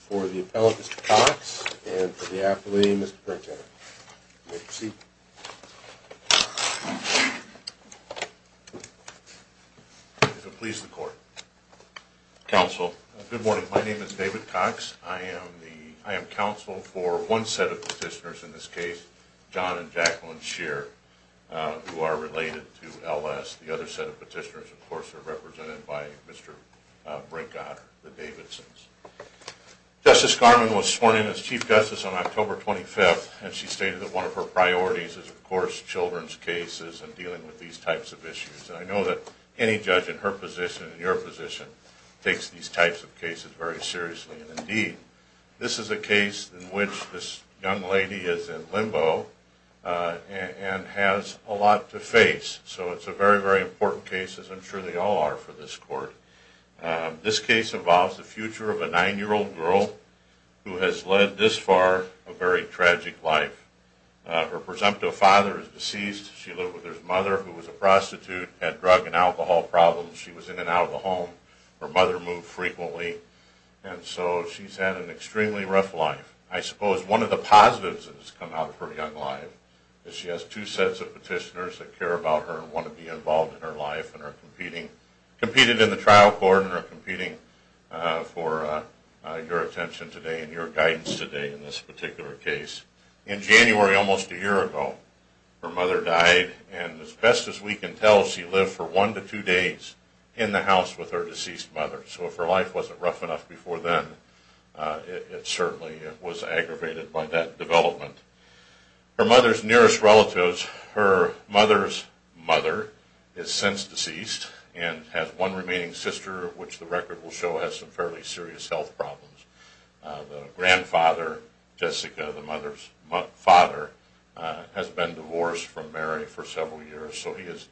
For the appellate, Mr. Cox, and for the affilee, Mr. Brinkheader, you may proceed. Please the court. Counsel. Good morning. My name is David Cox. I am counsel for one set of petitioners in this case, John and Jacqueline Scheer, who are related to L.S. The other set of petitioners, of course, are represented by Mr. Brinkheader, the Davidsons. Justice Garmon was sworn in as Chief Justice on October 25th, and she stated that one of her priorities is, of course, children's cases and dealing with these types of issues. And I know that any judge in her position and your position takes these types of cases very seriously. And indeed, this is a case in which this young lady is in limbo and has a lot to face. So it's a very, very important case, as I'm sure they all are for this court. This case involves the future of a nine-year-old girl who has led, this far, a very tragic life. Her presumptive father is deceased. She lived with her mother, who was a prostitute, had drug and alcohol problems. She was in and out of the home. Her mother moved frequently. And so she's had an extremely rough life. I suppose one of the positives that has come out of her young life is she has two sets of petitioners that care about her and want to be involved in her life and are competing in the trial court and are competing for your attention today and your guidance today in this particular case. In January, almost a year ago, her mother died, and as best as we can tell, she lived for one to two days in the house with her deceased mother. So if her life wasn't rough enough before then, it certainly was aggravated by that development. Her mother's nearest relatives, her mother's mother, is since deceased and has one remaining sister, which the record will show has some fairly serious health problems. The grandfather, Jessica, the mother's father, has been divorced from Mary for several years. So he is,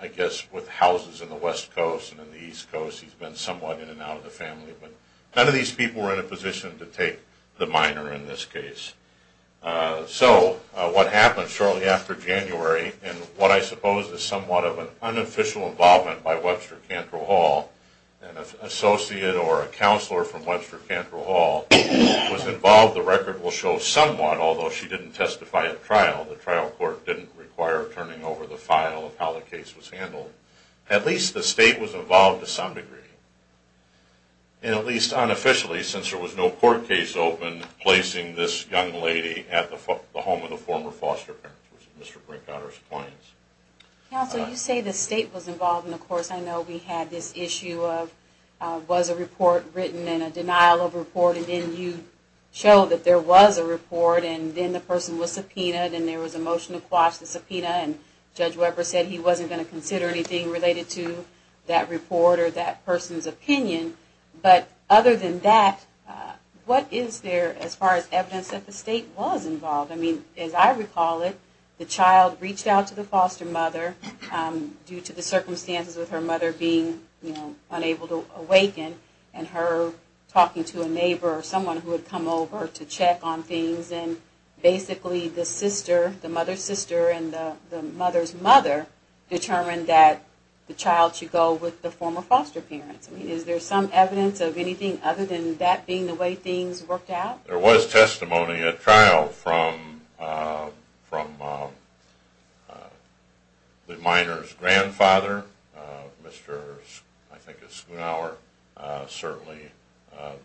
I guess, with houses in the West Coast and in the East Coast, he's been somewhat in and out of the family. But none of these people were in a position to take the minor in this case. So what happened shortly after January, and what I suppose is somewhat of an unofficial involvement by Webster Cantrell Hall, an associate or a counselor from Webster Cantrell Hall, was involved, the record will show, somewhat, although she didn't testify at trial, the file of how the case was handled, at least the state was involved to some degree. And at least unofficially, since there was no court case open, placing this young lady at the home of the former foster parents, which was Mr. Brinkhotter's clients. Counsel, you say the state was involved, and of course I know we had this issue of, was a report written and a denial of report, and then you show that there was a report, and then the person was subpoenaed, and there was a motion to quash the subpoena, and Judge Webber said he wasn't going to consider anything related to that report or that person's opinion. But other than that, what is there as far as evidence that the state was involved? I mean, as I recall it, the child reached out to the foster mother due to the circumstances with her mother being, you know, unable to awaken, and her talking to a neighbor or someone who had come over to check on things, and basically the sister, the mother's sister and the mother's mother determined that the child should go with the former foster parents. I mean, is there some evidence of anything other than that being the way things worked out? There was testimony at trial from the minor's grandfather, Mr. I think it's Schoonhauer, certainly,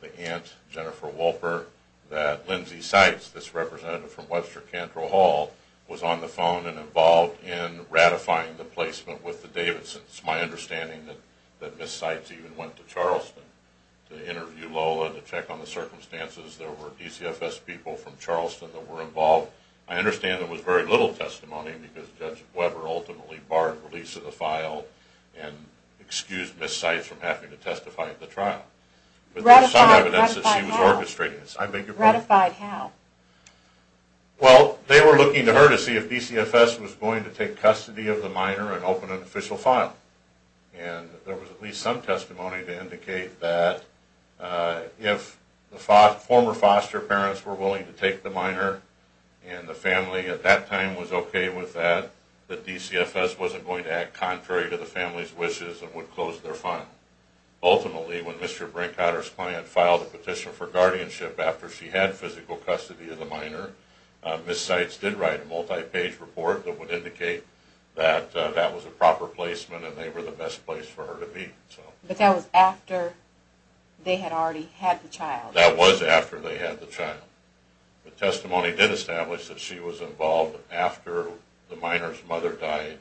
the aunt, Jennifer Wolper, that Lindsay Seitz, this representative from Webster Cantrell Hall, was on the phone and involved in ratifying the placement with the Davidsons. My understanding is that Ms. Seitz even went to Charleston to interview Lola to check on the circumstances. There were DCFS people from Charleston that were involved. I understand there was very little testimony because Judge Webber ultimately barred release of the file and excused Ms. Seitz from having to testify at the trial, but there's some evidence that she was orchestrating this. I beg your pardon? Ratified how? Well, they were looking to her to see if DCFS was going to take custody of the minor and open an official file, and there was at least some testimony to indicate that if the former foster parents were willing to take the minor and the family at that time was okay with that, that DCFS wasn't going to act contrary to the family's wishes and would close their file. Ultimately, when Mr. Brinkhotter's client filed a petition for guardianship after she had physical custody of the minor, Ms. Seitz did write a multi-page report that would indicate that that was a proper placement and they were the best place for her to be. But that was after they had already had the child? That was after they had the child. The testimony did establish that she was involved after the minor's mother died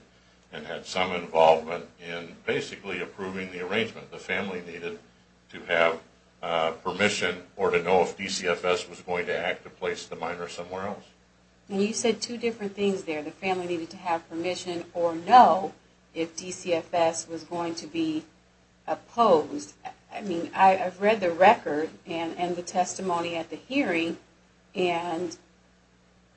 and had some involvement in basically approving the arrangement. The family needed to have permission or to know if DCFS was going to act to place the minor somewhere else. Well, you said two different things there. The family needed to have permission or know if DCFS was going to be opposed. I've read the record and the testimony at the hearing and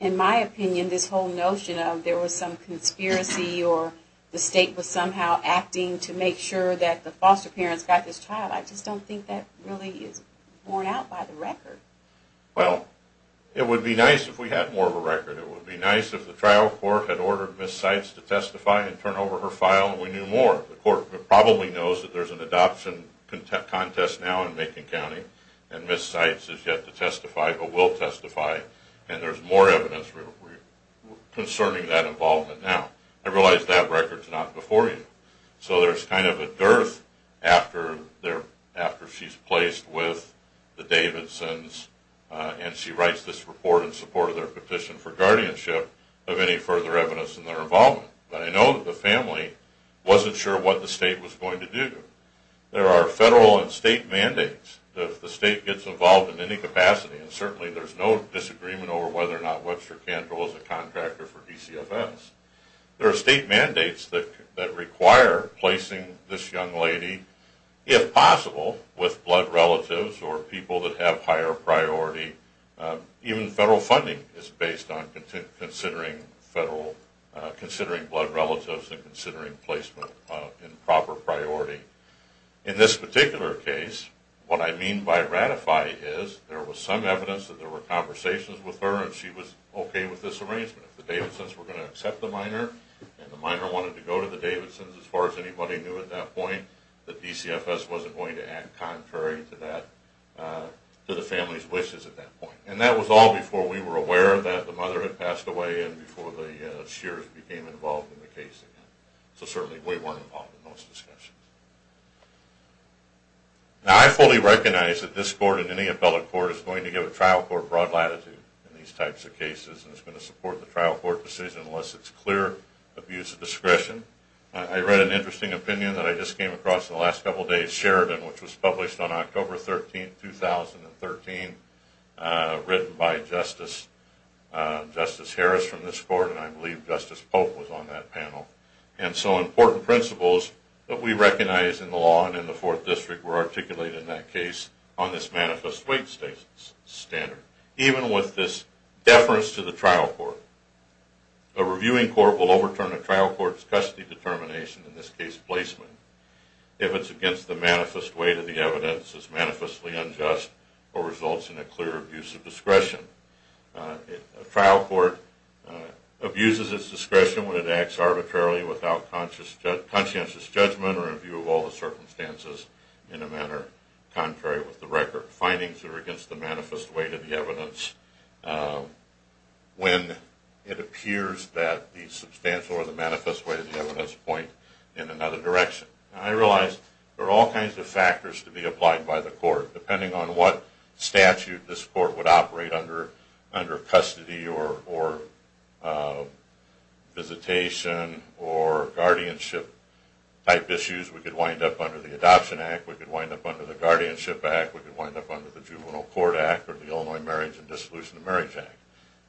in my opinion this whole notion of there was some conspiracy or the state was somehow acting to make sure that the foster parents got this child, I just don't think that really is borne out by the record. Well, it would be nice if we had more of a record. It would be nice if the trial court had ordered Ms. Seitz to testify and turn over her file and we knew more. The court probably knows that there's an adoption contest now in Macon County and Ms. Seitz has yet to testify but will testify and there's more evidence concerning that involvement now. I realize that record's not before you. So there's kind of a dearth after she's placed with the Davidsons and she writes this report in support of their petition for guardianship of any further evidence in their involvement. But I know that the family wasn't sure what the state was going to do. There are federal and state mandates that if the state gets involved in any capacity and certainly there's no disagreement over whether or not Webster Cantrell is a contractor for DCFS, there are state mandates that require placing this young lady, if possible, with blood relatives or people that have higher priority. Even federal funding is based on considering blood relatives and considering placement in proper priority. In this particular case, what I mean by ratify is there was some evidence that there were conversations with her and she was okay with this arrangement. If the Davidsons were going to accept the minor and the minor wanted to go to the Davidsons as far as anybody knew at that point, the DCFS wasn't going to act contrary to the family's decision at that point. And that was all before we were aware that the mother had passed away and before the Shears became involved in the case again. So certainly we weren't involved in those discussions. Now I fully recognize that this court and any appellate court is going to give a trial court broad latitude in these types of cases and it's going to support the trial court decision unless it's clear abuse of discretion. I read an interesting opinion that I just came across in the last couple days, Sheridan, which was published on October 13, 2013, written by Justice Harris from this court and I believe Justice Pope was on that panel. And so important principles that we recognize in the law and in the Fourth District were articulated in that case on this manifest weight standard. Even with this deference to the trial court, a reviewing court will overturn a trial court's in this case placement. If it's against the manifest weight of the evidence, it's manifestly unjust or results in a clear abuse of discretion. A trial court abuses its discretion when it acts arbitrarily without conscientious judgment or in view of all the circumstances in a manner contrary with the record. Findings that are against the manifest weight of the evidence, when it appears that the manifest weight of the evidence point in another direction. I realize there are all kinds of factors to be applied by the court. Depending on what statute this court would operate under, under custody or visitation or guardianship type issues, we could wind up under the Adoption Act, we could wind up under the Guardianship Act, we could wind up under the Juvenile Court Act or the Illinois Marriage and Dissolution of Marriage Act.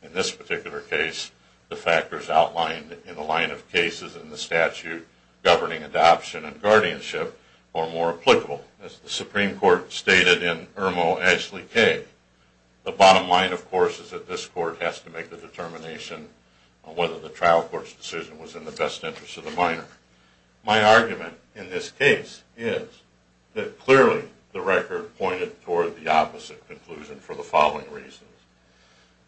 In this particular case, the factors outlined in the line of cases in the statute governing adoption and guardianship are more applicable. As the Supreme Court stated in Irmo Ashley K., the bottom line, of course, is that this court has to make the determination on whether the trial court's decision was in the best interest of the minor. My argument in this case is that clearly the record pointed toward the opposite conclusion for the following reasons.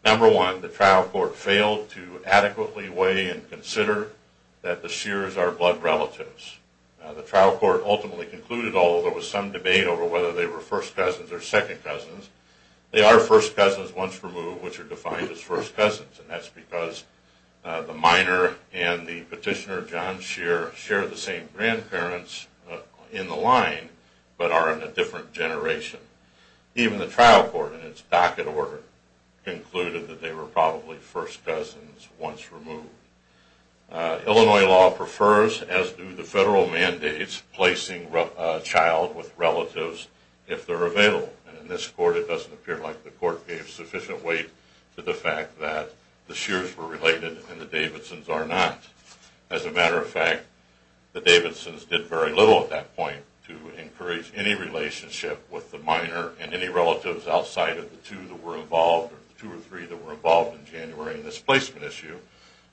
Number one, the trial court failed to adequately weigh and consider that the Shears are blood relatives. The trial court ultimately concluded, although there was some debate over whether they were first cousins or second cousins, they are first cousins once removed, which are defined as first cousins, and that's because the minor and the petitioner, John Shear, share the same grandparents in the line, but are in a different generation. Even the trial court, in its docket order, concluded that they were probably first cousins once removed. Illinois law prefers, as do the federal mandates, placing a child with relatives if they're available. In this court, it doesn't appear like the court gave sufficient weight to the fact that the Shears were related and the Davidsons are not. As a matter of fact, the Davidsons did very little at that point to encourage any relationship with the minor and any relatives outside of the two that were involved, or the two or three that were involved in January in this placement issue,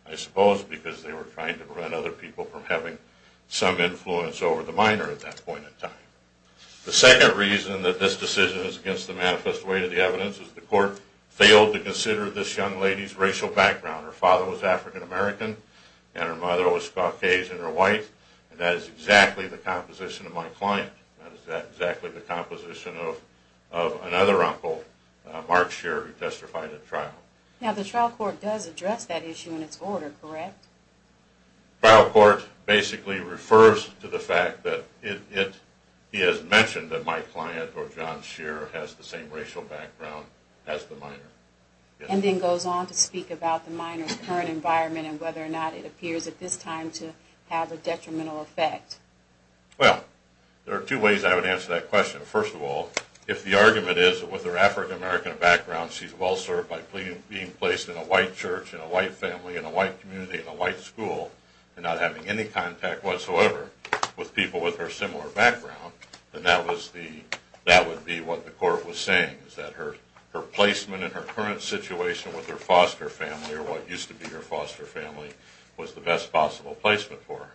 I suppose because they were trying to prevent other people from having some influence over the minor at that point in time. The second reason that this decision is against the manifest weight of the evidence is the court failed to consider this young lady's racial background. Her father was African American and her mother was Caucasian or white, and that is exactly the composition of my client. That is exactly the composition of another uncle, Mark Shear, who testified at trial. Now the trial court does address that issue in its order, correct? The trial court basically refers to the fact that it is mentioned that my client, or John Shear, has the same racial background as the minor. And then goes on to speak about the minor's current environment and whether or not it appears at this time to have a detrimental effect. Well, there are two ways I would answer that question. First of all, if the argument is that with her African American background she is well served by being placed in a white church, in a white family, in a white community, in a white school, and not having any contact whatsoever with people with her similar background, then that would be what the court was saying, that her placement and her current situation with her foster family, or what used to be her foster family, was the best possible placement for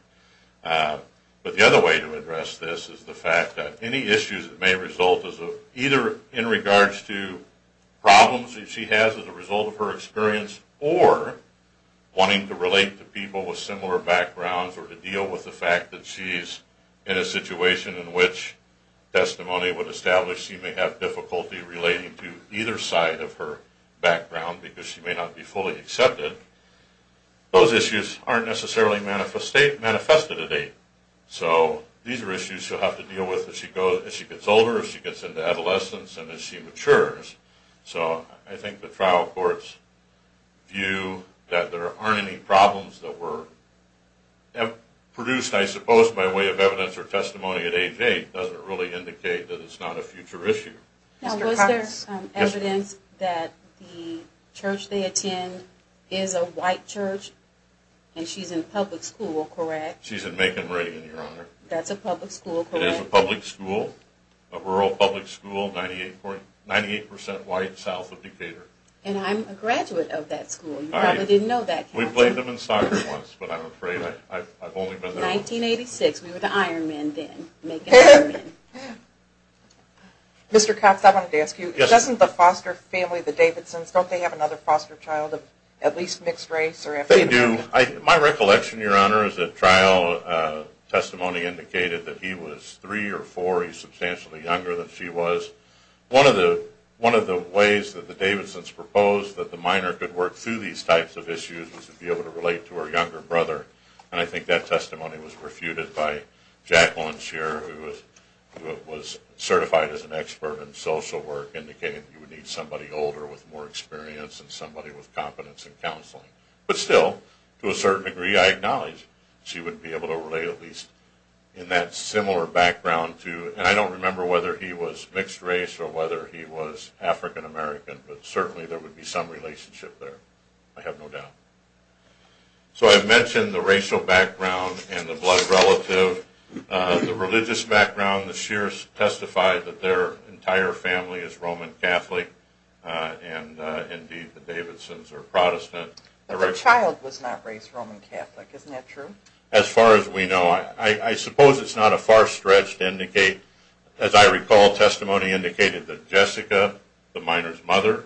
her. But the other way to address this is the fact that any issues that may result either in regards to problems that she has as a result of her experience, or wanting to relate to people with similar backgrounds, or to deal with the fact that she is in a situation in which testimony would establish she may have difficulty relating to either side of her background because she may not be fully accepted, those issues aren't necessarily manifested at age. So, these are issues she'll have to deal with as she gets older, as she gets into adolescence, and as she matures. So, I think the trial court's view that there aren't any problems that were produced, I suppose, by way of evidence or testimony at age 8 doesn't really indicate that it's not a future issue. Now, was there evidence that the church they attend is a white church, and she's in public school, correct? She's in Macon, Oregon, Your Honor. That's a public school, correct? It is a public school, a rural public school, 98% white, south of Decatur. And I'm a graduate of that school. You probably didn't know that. We played them in soccer once, but I'm afraid I've only been there once. 1986, we were the Ironmen then, Macon Ironmen. Mr. Cox, I wanted to ask you, doesn't the foster family, the Davidson's, don't they have another foster child of at least mixed race? They do. My recollection, Your Honor, is that trial testimony indicated that he was 3 or 4, he was substantially younger than she was. One of the ways that the Davidson's proposed that the minor could work through these types of issues was to be able to relate to her younger brother, and I think that testimony was refuted by Jacqueline Shearer, who was certified as an expert in social work, indicating you would need somebody older with more experience and somebody with competence in counseling. But still, to a certain degree, I acknowledge she would be able to relate at least in that similar background to, and I don't remember whether he was mixed race or whether he was African American, but certainly there would be some relationship there. I have no doubt. So I mentioned the racial background and the blood relative. The religious background, the Shearers testified that their entire family is Roman Catholic, and indeed the Davidson's are Protestant. But the child was not raised Roman Catholic, isn't that true? As far as we know. I suppose it's not a far stretch to indicate, as I recall, testimony indicated that Jessica, the minor's mother,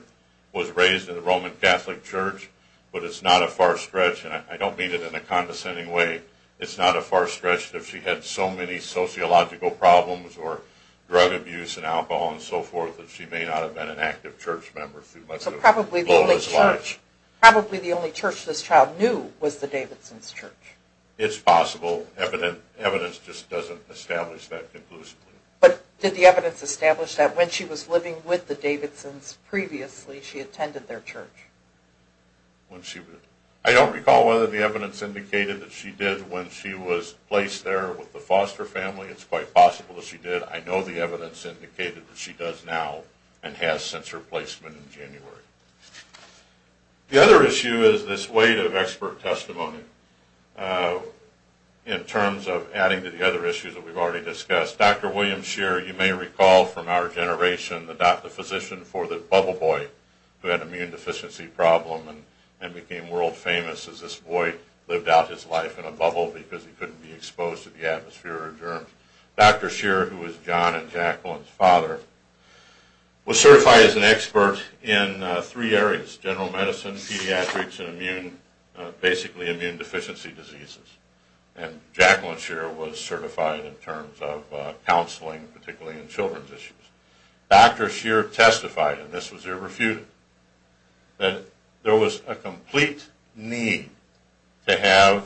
was raised in a Roman Catholic church, but it's not a far stretch, and I don't mean it in a condescending way, it's not a far stretch that she had so many sociological problems or drug abuse and alcohol and so forth that she may not have been an active church member through much of her life. So probably the only church this child knew was the Davidson's church. It's possible. Evidence just doesn't establish that conclusively. But did the evidence establish that when she was living with the Davidson's previously, she attended their church? I don't recall whether the evidence indicated that she did when she was placed there with the foster family. It's quite possible that she did. I know the evidence indicated that she does now and has since her placement in January. The other issue is this weight of expert testimony in terms of adding to the other issues that Dr. William Scheer, you may recall from our generation, the physician for the bubble boy who had an immune deficiency problem and became world famous as this boy lived out his life in a bubble because he couldn't be exposed to the atmosphere or germs. Dr. Scheer, who was John and Jacqueline's father, was certified as an expert in three areas, general medicine, pediatrics, and basically immune deficiency diseases. And Jacqueline Scheer was certified in terms of counseling, particularly in children's issues. Dr. Scheer testified, and this was irrefutable, that there was a complete need to have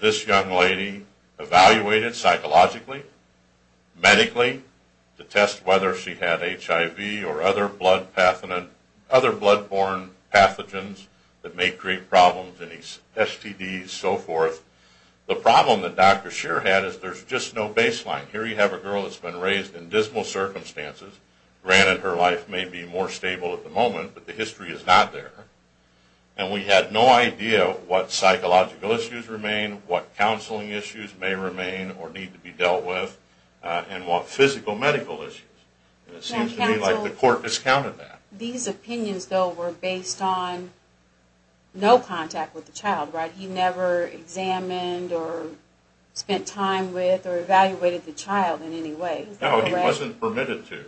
this young lady evaluated psychologically, medically, to test whether she had HIV or other blood-borne pathogens that may create problems in STDs, so forth. The problem that Dr. Scheer had is there's just no baseline. Here you have a girl that's been raised in dismal circumstances. Granted, her life may be more stable at the moment, but the history is not there. And we had no idea what psychological issues remain, what counseling issues may remain or need to be dealt with, and what physical medical issues. It seems to me like the court discounted that. These opinions, though, were based on no contact with the child, right? He never examined or spent time with or evaluated the child in any way. No, he wasn't permitted to.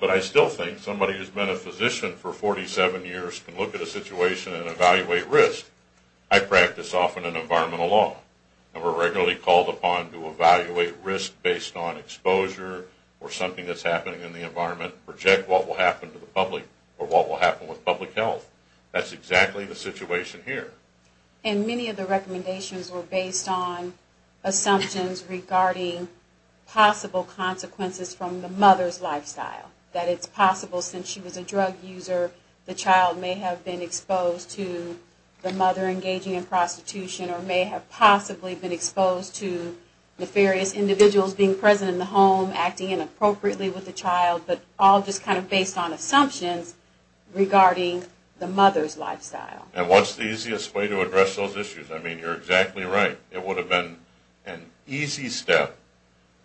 But I still think somebody who's been a physician for 47 years can look at a situation and evaluate risk. I practice often in environmental law, and we're regularly called upon to evaluate risk based on exposure or something that's happening in the environment, project what will happen to the public or what will happen with public health. That's exactly the situation here. And many of the recommendations were based on assumptions regarding possible consequences from the mother's lifestyle, that it's possible since she was a drug user, the child may have been exposed to the mother engaging in prostitution or may have possibly been exposed to nefarious individuals being present in the home acting inappropriately with the child, but all just kind of based on assumptions regarding the mother's lifestyle. And what's the easiest way to address those issues? I mean, you're exactly right. It would have been an easy step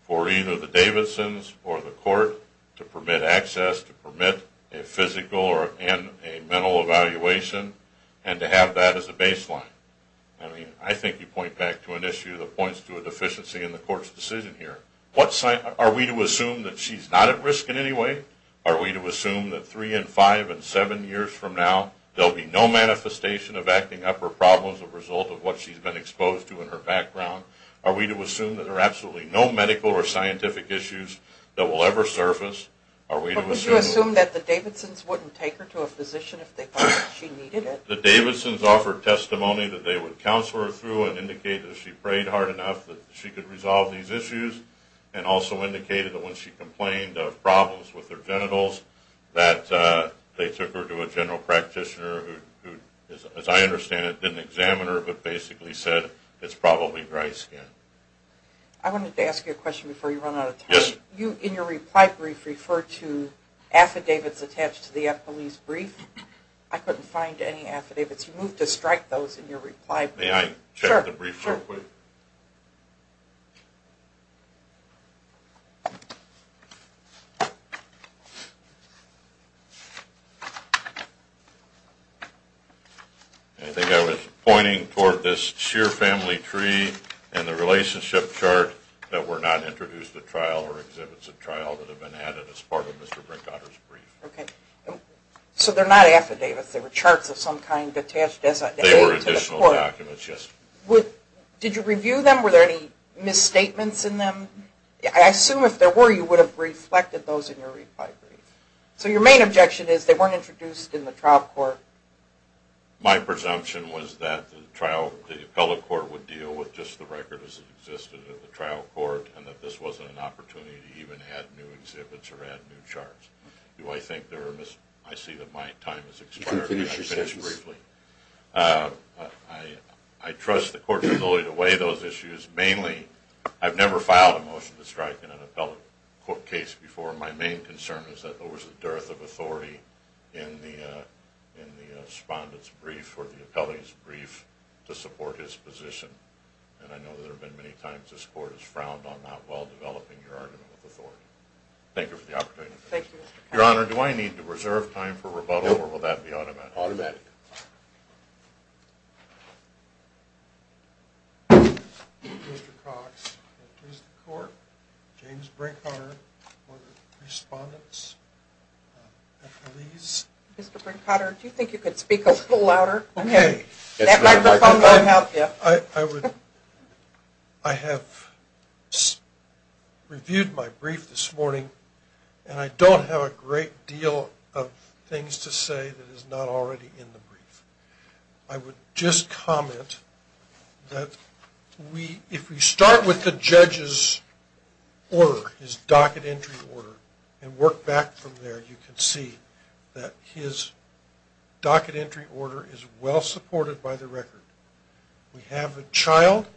for either the Davidsons or the court to permit access, to permit a physical and a mental evaluation, and to have that as a baseline. I mean, I think you point back to an issue that points to a deficiency in the court's decision here. Are we to assume that she's not at risk in any way? Are we to assume that three and five and seven years from now, there will be no manifestation of acting up or problems as a result of what she's been exposed to in her background? Are we to assume that there are absolutely no medical or scientific issues that will ever surface? Are we to assume... But would you assume that the Davidsons wouldn't take her to a physician if they thought she needed it? The Davidsons offered testimony that they would counsel her through and indicate that she prayed hard enough that she could resolve these issues and also indicated that when she complained of problems with her genitals, that they took her to a general practitioner who, as I understand it, didn't examine her but basically said, it's probably dry skin. I wanted to ask you a question before you run out of time. Yes. You, in your reply brief, referred to affidavits attached to the police brief. I couldn't find any affidavits. You moved to strike those in your reply brief. May I check the brief real quick? Sure. I think I was pointing toward this sheer family tree and the relationship chart that were not introduced at trial or exhibits at trial that have been added as part of Mr. Brinkhotter's brief. Okay. So they're not affidavits. They were charts of some kind attached to the book. They were additional documents, yes. Did you review them? Were there any misstatements in them? I assume if there were, you would have reflected those in your reply brief. So your main objection is they weren't introduced in the trial court. My presumption was that the appellate court would deal with just the records that existed in the trial court and that this wasn't an opportunity to even add new exhibits or add new charts. Do I think there were misstatements? I see that my time has expired and I finished briefly. I trust the court's ability to weigh those issues. Mainly, I've never filed a motion to strike in an appellate court case before. My main concern is that there was a dearth of authority in the respondent's brief or the appellate's brief to support his position, and I know that there have been many times this court has frowned on that while developing your argument with authority. Thank you for the opportunity. Thank you, Mr. Cox. Your Honor, do I need to reserve time for rebuttal or will that be automatic? Automatic. Mr. Brinkhotter, do you think you could speak a little louder? That microphone won't help you. I have reviewed my brief this morning and I don't have a great deal of things to say that is not already in the brief. I would just comment that if we start with the judge's order, his docket entry order, and work back from there, you can see that his docket entry order is well supported by the record. We have a child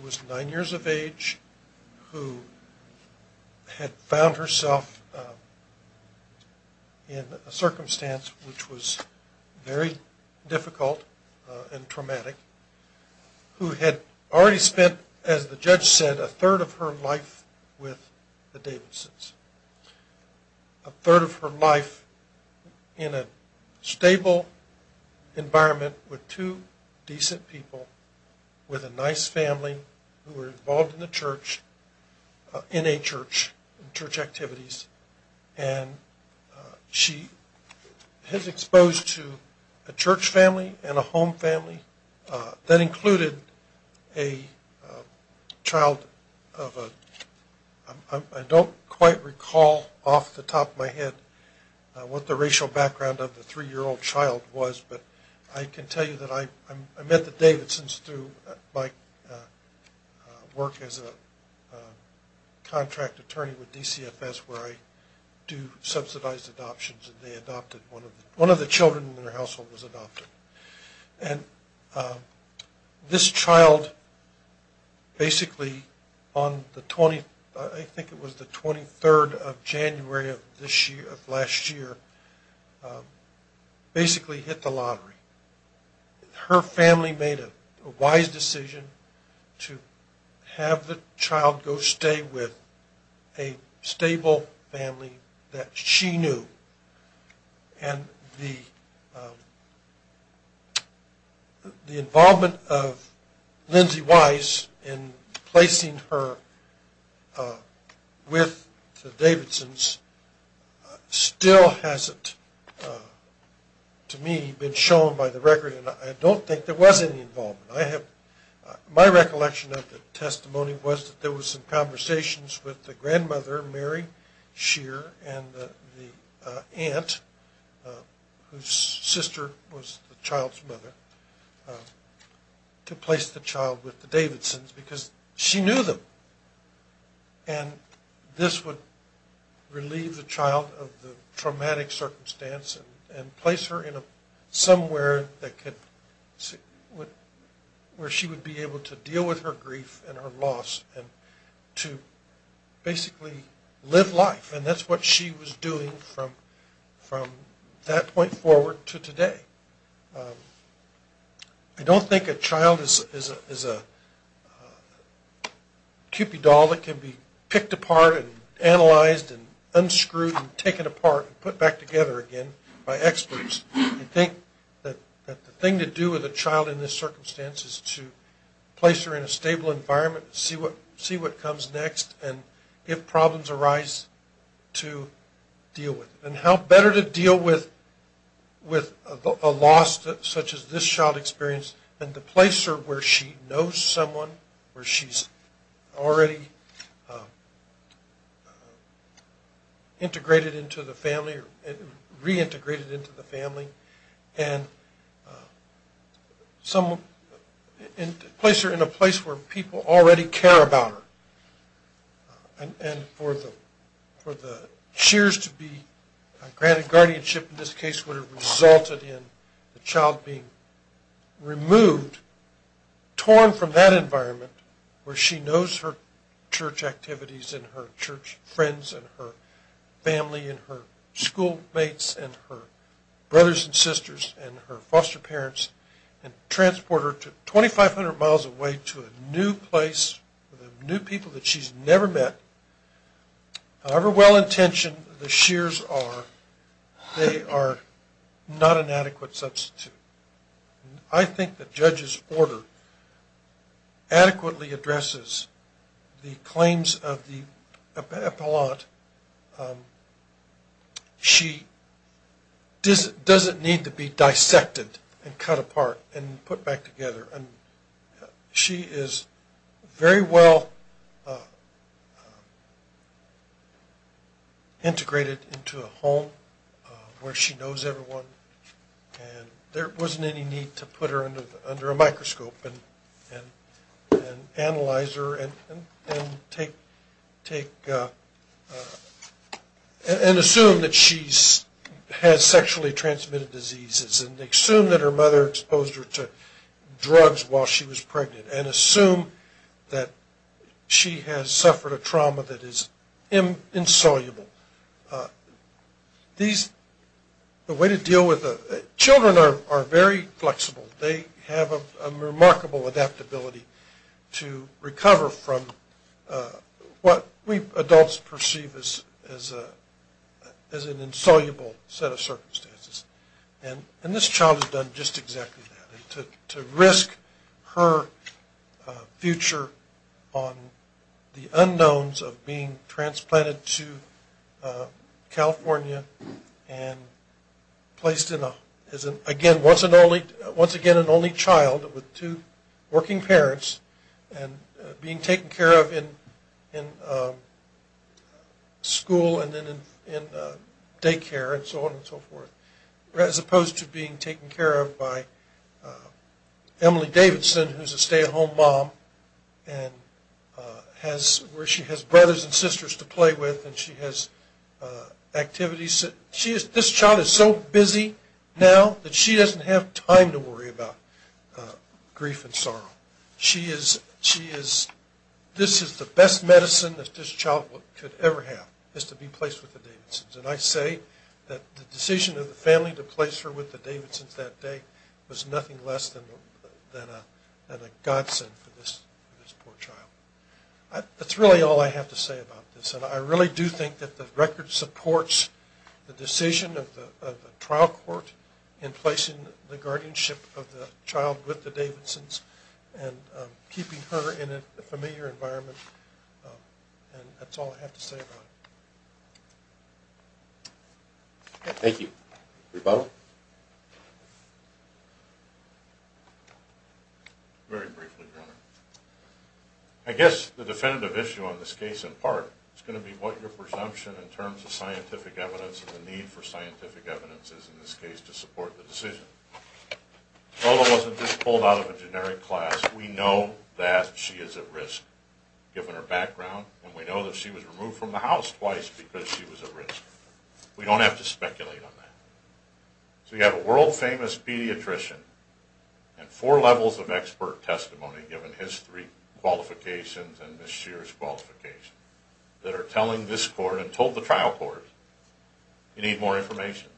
who is nine years of age who had found herself in a circumstance which was very difficult and traumatic who had already spent, as the judge said, a third of her life with the Davidsons, a third of her life in a stable environment with two decent people, with a nice family who were involved in the church, in a church, church activities, and she has exposed to a church family and a home family that included a child of a, I don't quite recall off the top of my head what the racial background of the three-year-old child was, but I can tell you that I met the Davidsons through my work as a contract attorney with DCFS where I do subsidized adoptions and they adopted one of the children in their household was adopted. And this child basically on the, I think it was the 23rd of January of this year, of last year, basically hit the lottery. Her family made a wise decision to have the child go stay with a stable family that she knew and the involvement of Lindsay Wise in placing her with the Davidsons still hasn't, to me, been shown by the record and I don't think there was any involvement. My recollection of the testimony was that there was some conversations with the grandmother, Mary Shear, and the aunt, whose sister was the child's mother, to place the child with the Davidsons because she knew them and this would relieve the child of the traumatic circumstance and place her in somewhere that could, where she would be able to deal with her grief and her loss and to basically live life. And that's what she was doing from that point forward to today. I don't think a child is a cupid doll that can be picked apart and analyzed and unscrewed and taken apart and put back together again by experts. I think that the thing to do with a child in this circumstance is to place her in a stable environment, see what comes next, and if problems arise, to deal with it. And how better to deal with a loss such as this child experienced than to place her where she knows someone, where she's already integrated into the family and reintegrated into the family and place her in a place where people already care about her. And for the Shears to be granted guardianship in this case would have resulted in the child being removed, torn from that environment where she knows her church activities and her church friends and her family and her schoolmates and her brothers and sisters and her foster parents and transport her 2,500 miles away to a new place with new people that she's never met. However well-intentioned the Shears are, they are not an adequate substitute. I think the judge's order adequately addresses the claims of the appellant. She doesn't need to be dissected and cut apart and put back together. She is very well integrated into a home where she knows everyone, and there wasn't any need to put her under a microscope and analyze her and assume that she has sexually transmitted diseases and assume that her mother exposed her to drugs while she was pregnant and assume that she has suffered a trauma that is insoluble. These, the way to deal with, children are very flexible. They have a remarkable adaptability to recover from what we adults perceive as an insoluble set of circumstances. And this child has done just exactly that. To risk her future on the unknowns of being transplanted to California and placed as, again, once again an only child with two working parents and being taken care of in school and then in daycare and so on and so forth, as opposed to being taken care of by Emily Davidson, who's a stay-at-home mom, where she has brothers and sisters to play with and she has activities. This child is so busy now that she doesn't have time to worry about grief and sorrow. This is the best medicine that this child could ever have, is to be placed with the Davidsons. And I say that the decision of the family to place her with the Davidsons that day was nothing less than a godsend for this poor child. That's really all I have to say about this. And I really do think that the record supports the decision of the trial court in placing the guardianship of the child with the Davidsons and keeping her in a familiar environment. And that's all I have to say about it. Bob? Very briefly, Your Honor. I guess the definitive issue on this case, in part, is going to be what your presumption in terms of scientific evidence and the need for scientific evidence is in this case to support the decision. Lola wasn't just pulled out of a generic class. We know that she is at risk, given her background, and we know that she was removed from the house twice because she was at risk. We don't have to speculate on that. So you have a world-famous pediatrician and four levels of expert testimony, given his three qualifications and Ms. Scheer's qualification, that are telling this court and told the trial court, you need more information.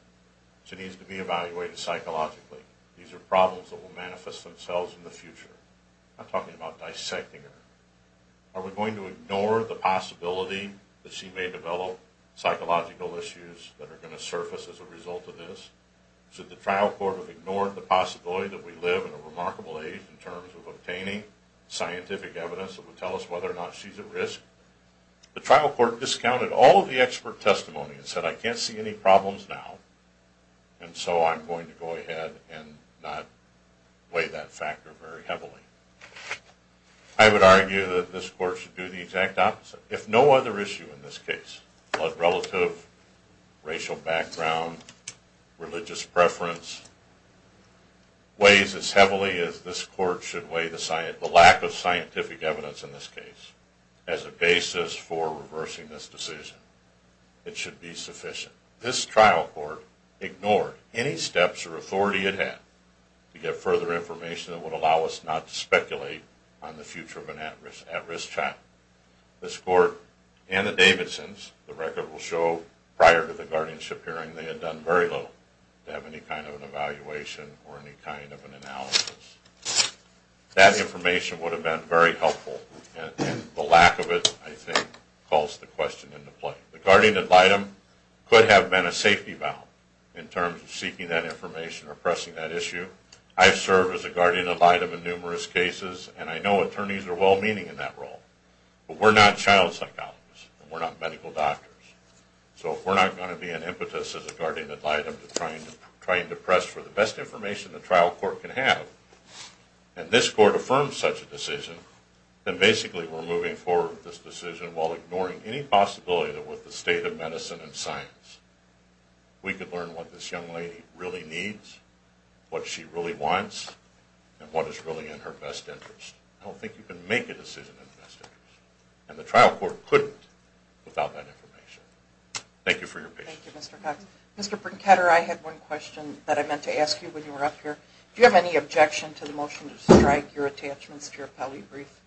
She needs to be evaluated psychologically. These are problems that will manifest themselves in the future. I'm talking about dissecting her. Are we going to ignore the possibility that she may develop psychological issues that are going to surface as a result of this? Should the trial court have ignored the possibility that we live in a remarkable age in terms of obtaining scientific evidence that would tell us whether or not she's at risk? The trial court discounted all of the expert testimony and said, I can't see any problems now, and so I'm going to go ahead and not weigh that factor very heavily. I would argue that this court should do the exact opposite, if no other issue in this case, blood relative, racial background, religious preference, weighs as heavily as this court should weigh the lack of scientific evidence in this case as a basis for reversing this decision. It should be sufficient. This trial court ignored any steps or authority it had to get further information that would allow us not to speculate on the future of an at-risk child. This court and the Davidsons, the record will show, prior to the guardianship hearing they had done very little to have any kind of an evaluation or any kind of an analysis. That information would have been very helpful, and the lack of it, I think, calls the question into play. The guardian ad litem could have been a safety valve in terms of seeking that information or pressing that issue. I've served as a guardian ad litem in numerous cases, and I know attorneys are well-meaning in that role, but we're not child psychologists, and we're not medical doctors. So if we're not going to be an impetus as a guardian ad litem to try and press for the best information the trial court can have, and this court affirms such a decision, then basically we're moving forward with this decision while ignoring any possibility that with the state of medicine and science we could learn what this young lady really needs, what she really wants, and what is really in her best interest. I don't think you can make a decision in her best interest, and the trial court couldn't without that information. Thank you for your patience. Thank you, Mr. Cox. Mr. Brinketter, I had one question that I meant to ask you when you were up here. Do you have any objection to the motion to strike your attachments to your Pelley brief?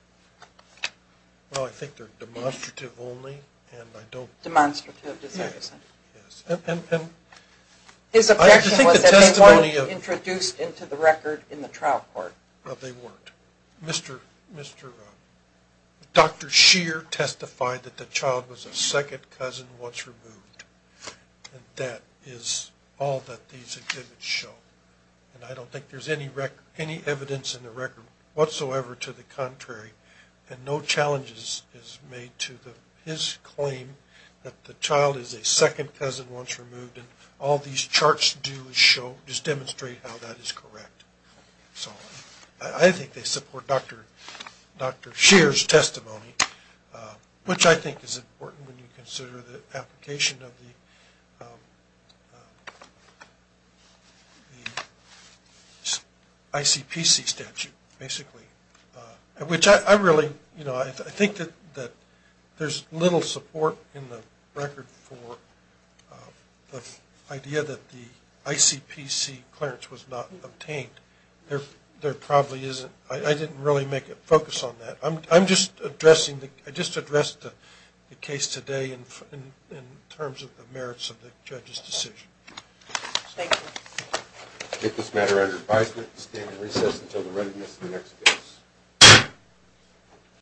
Well, I think they're demonstrative only, and I don't... Demonstrative, does that mean? Yes. His objection was that they weren't introduced into the record in the trial court. No, they weren't. Dr. Shear testified that the child was a second cousin once removed, and that is all that these exhibits show. And I don't think there's any evidence in the record whatsoever to the contrary, and no challenge is made to his claim that the child is a second cousin once removed, and all these charts do is demonstrate how that is correct. So I think they support Dr. Shear's testimony, which I think is important when you consider the application of the ICPC statute, basically. I think that there's little support in the record for the idea that the ICPC clearance was not obtained. There probably isn't. I didn't really make a focus on that. I just addressed the case today in terms of the merits of the judge's decision. Thank you. I take this matter under advisement and stand in recess until the readiness of the next case.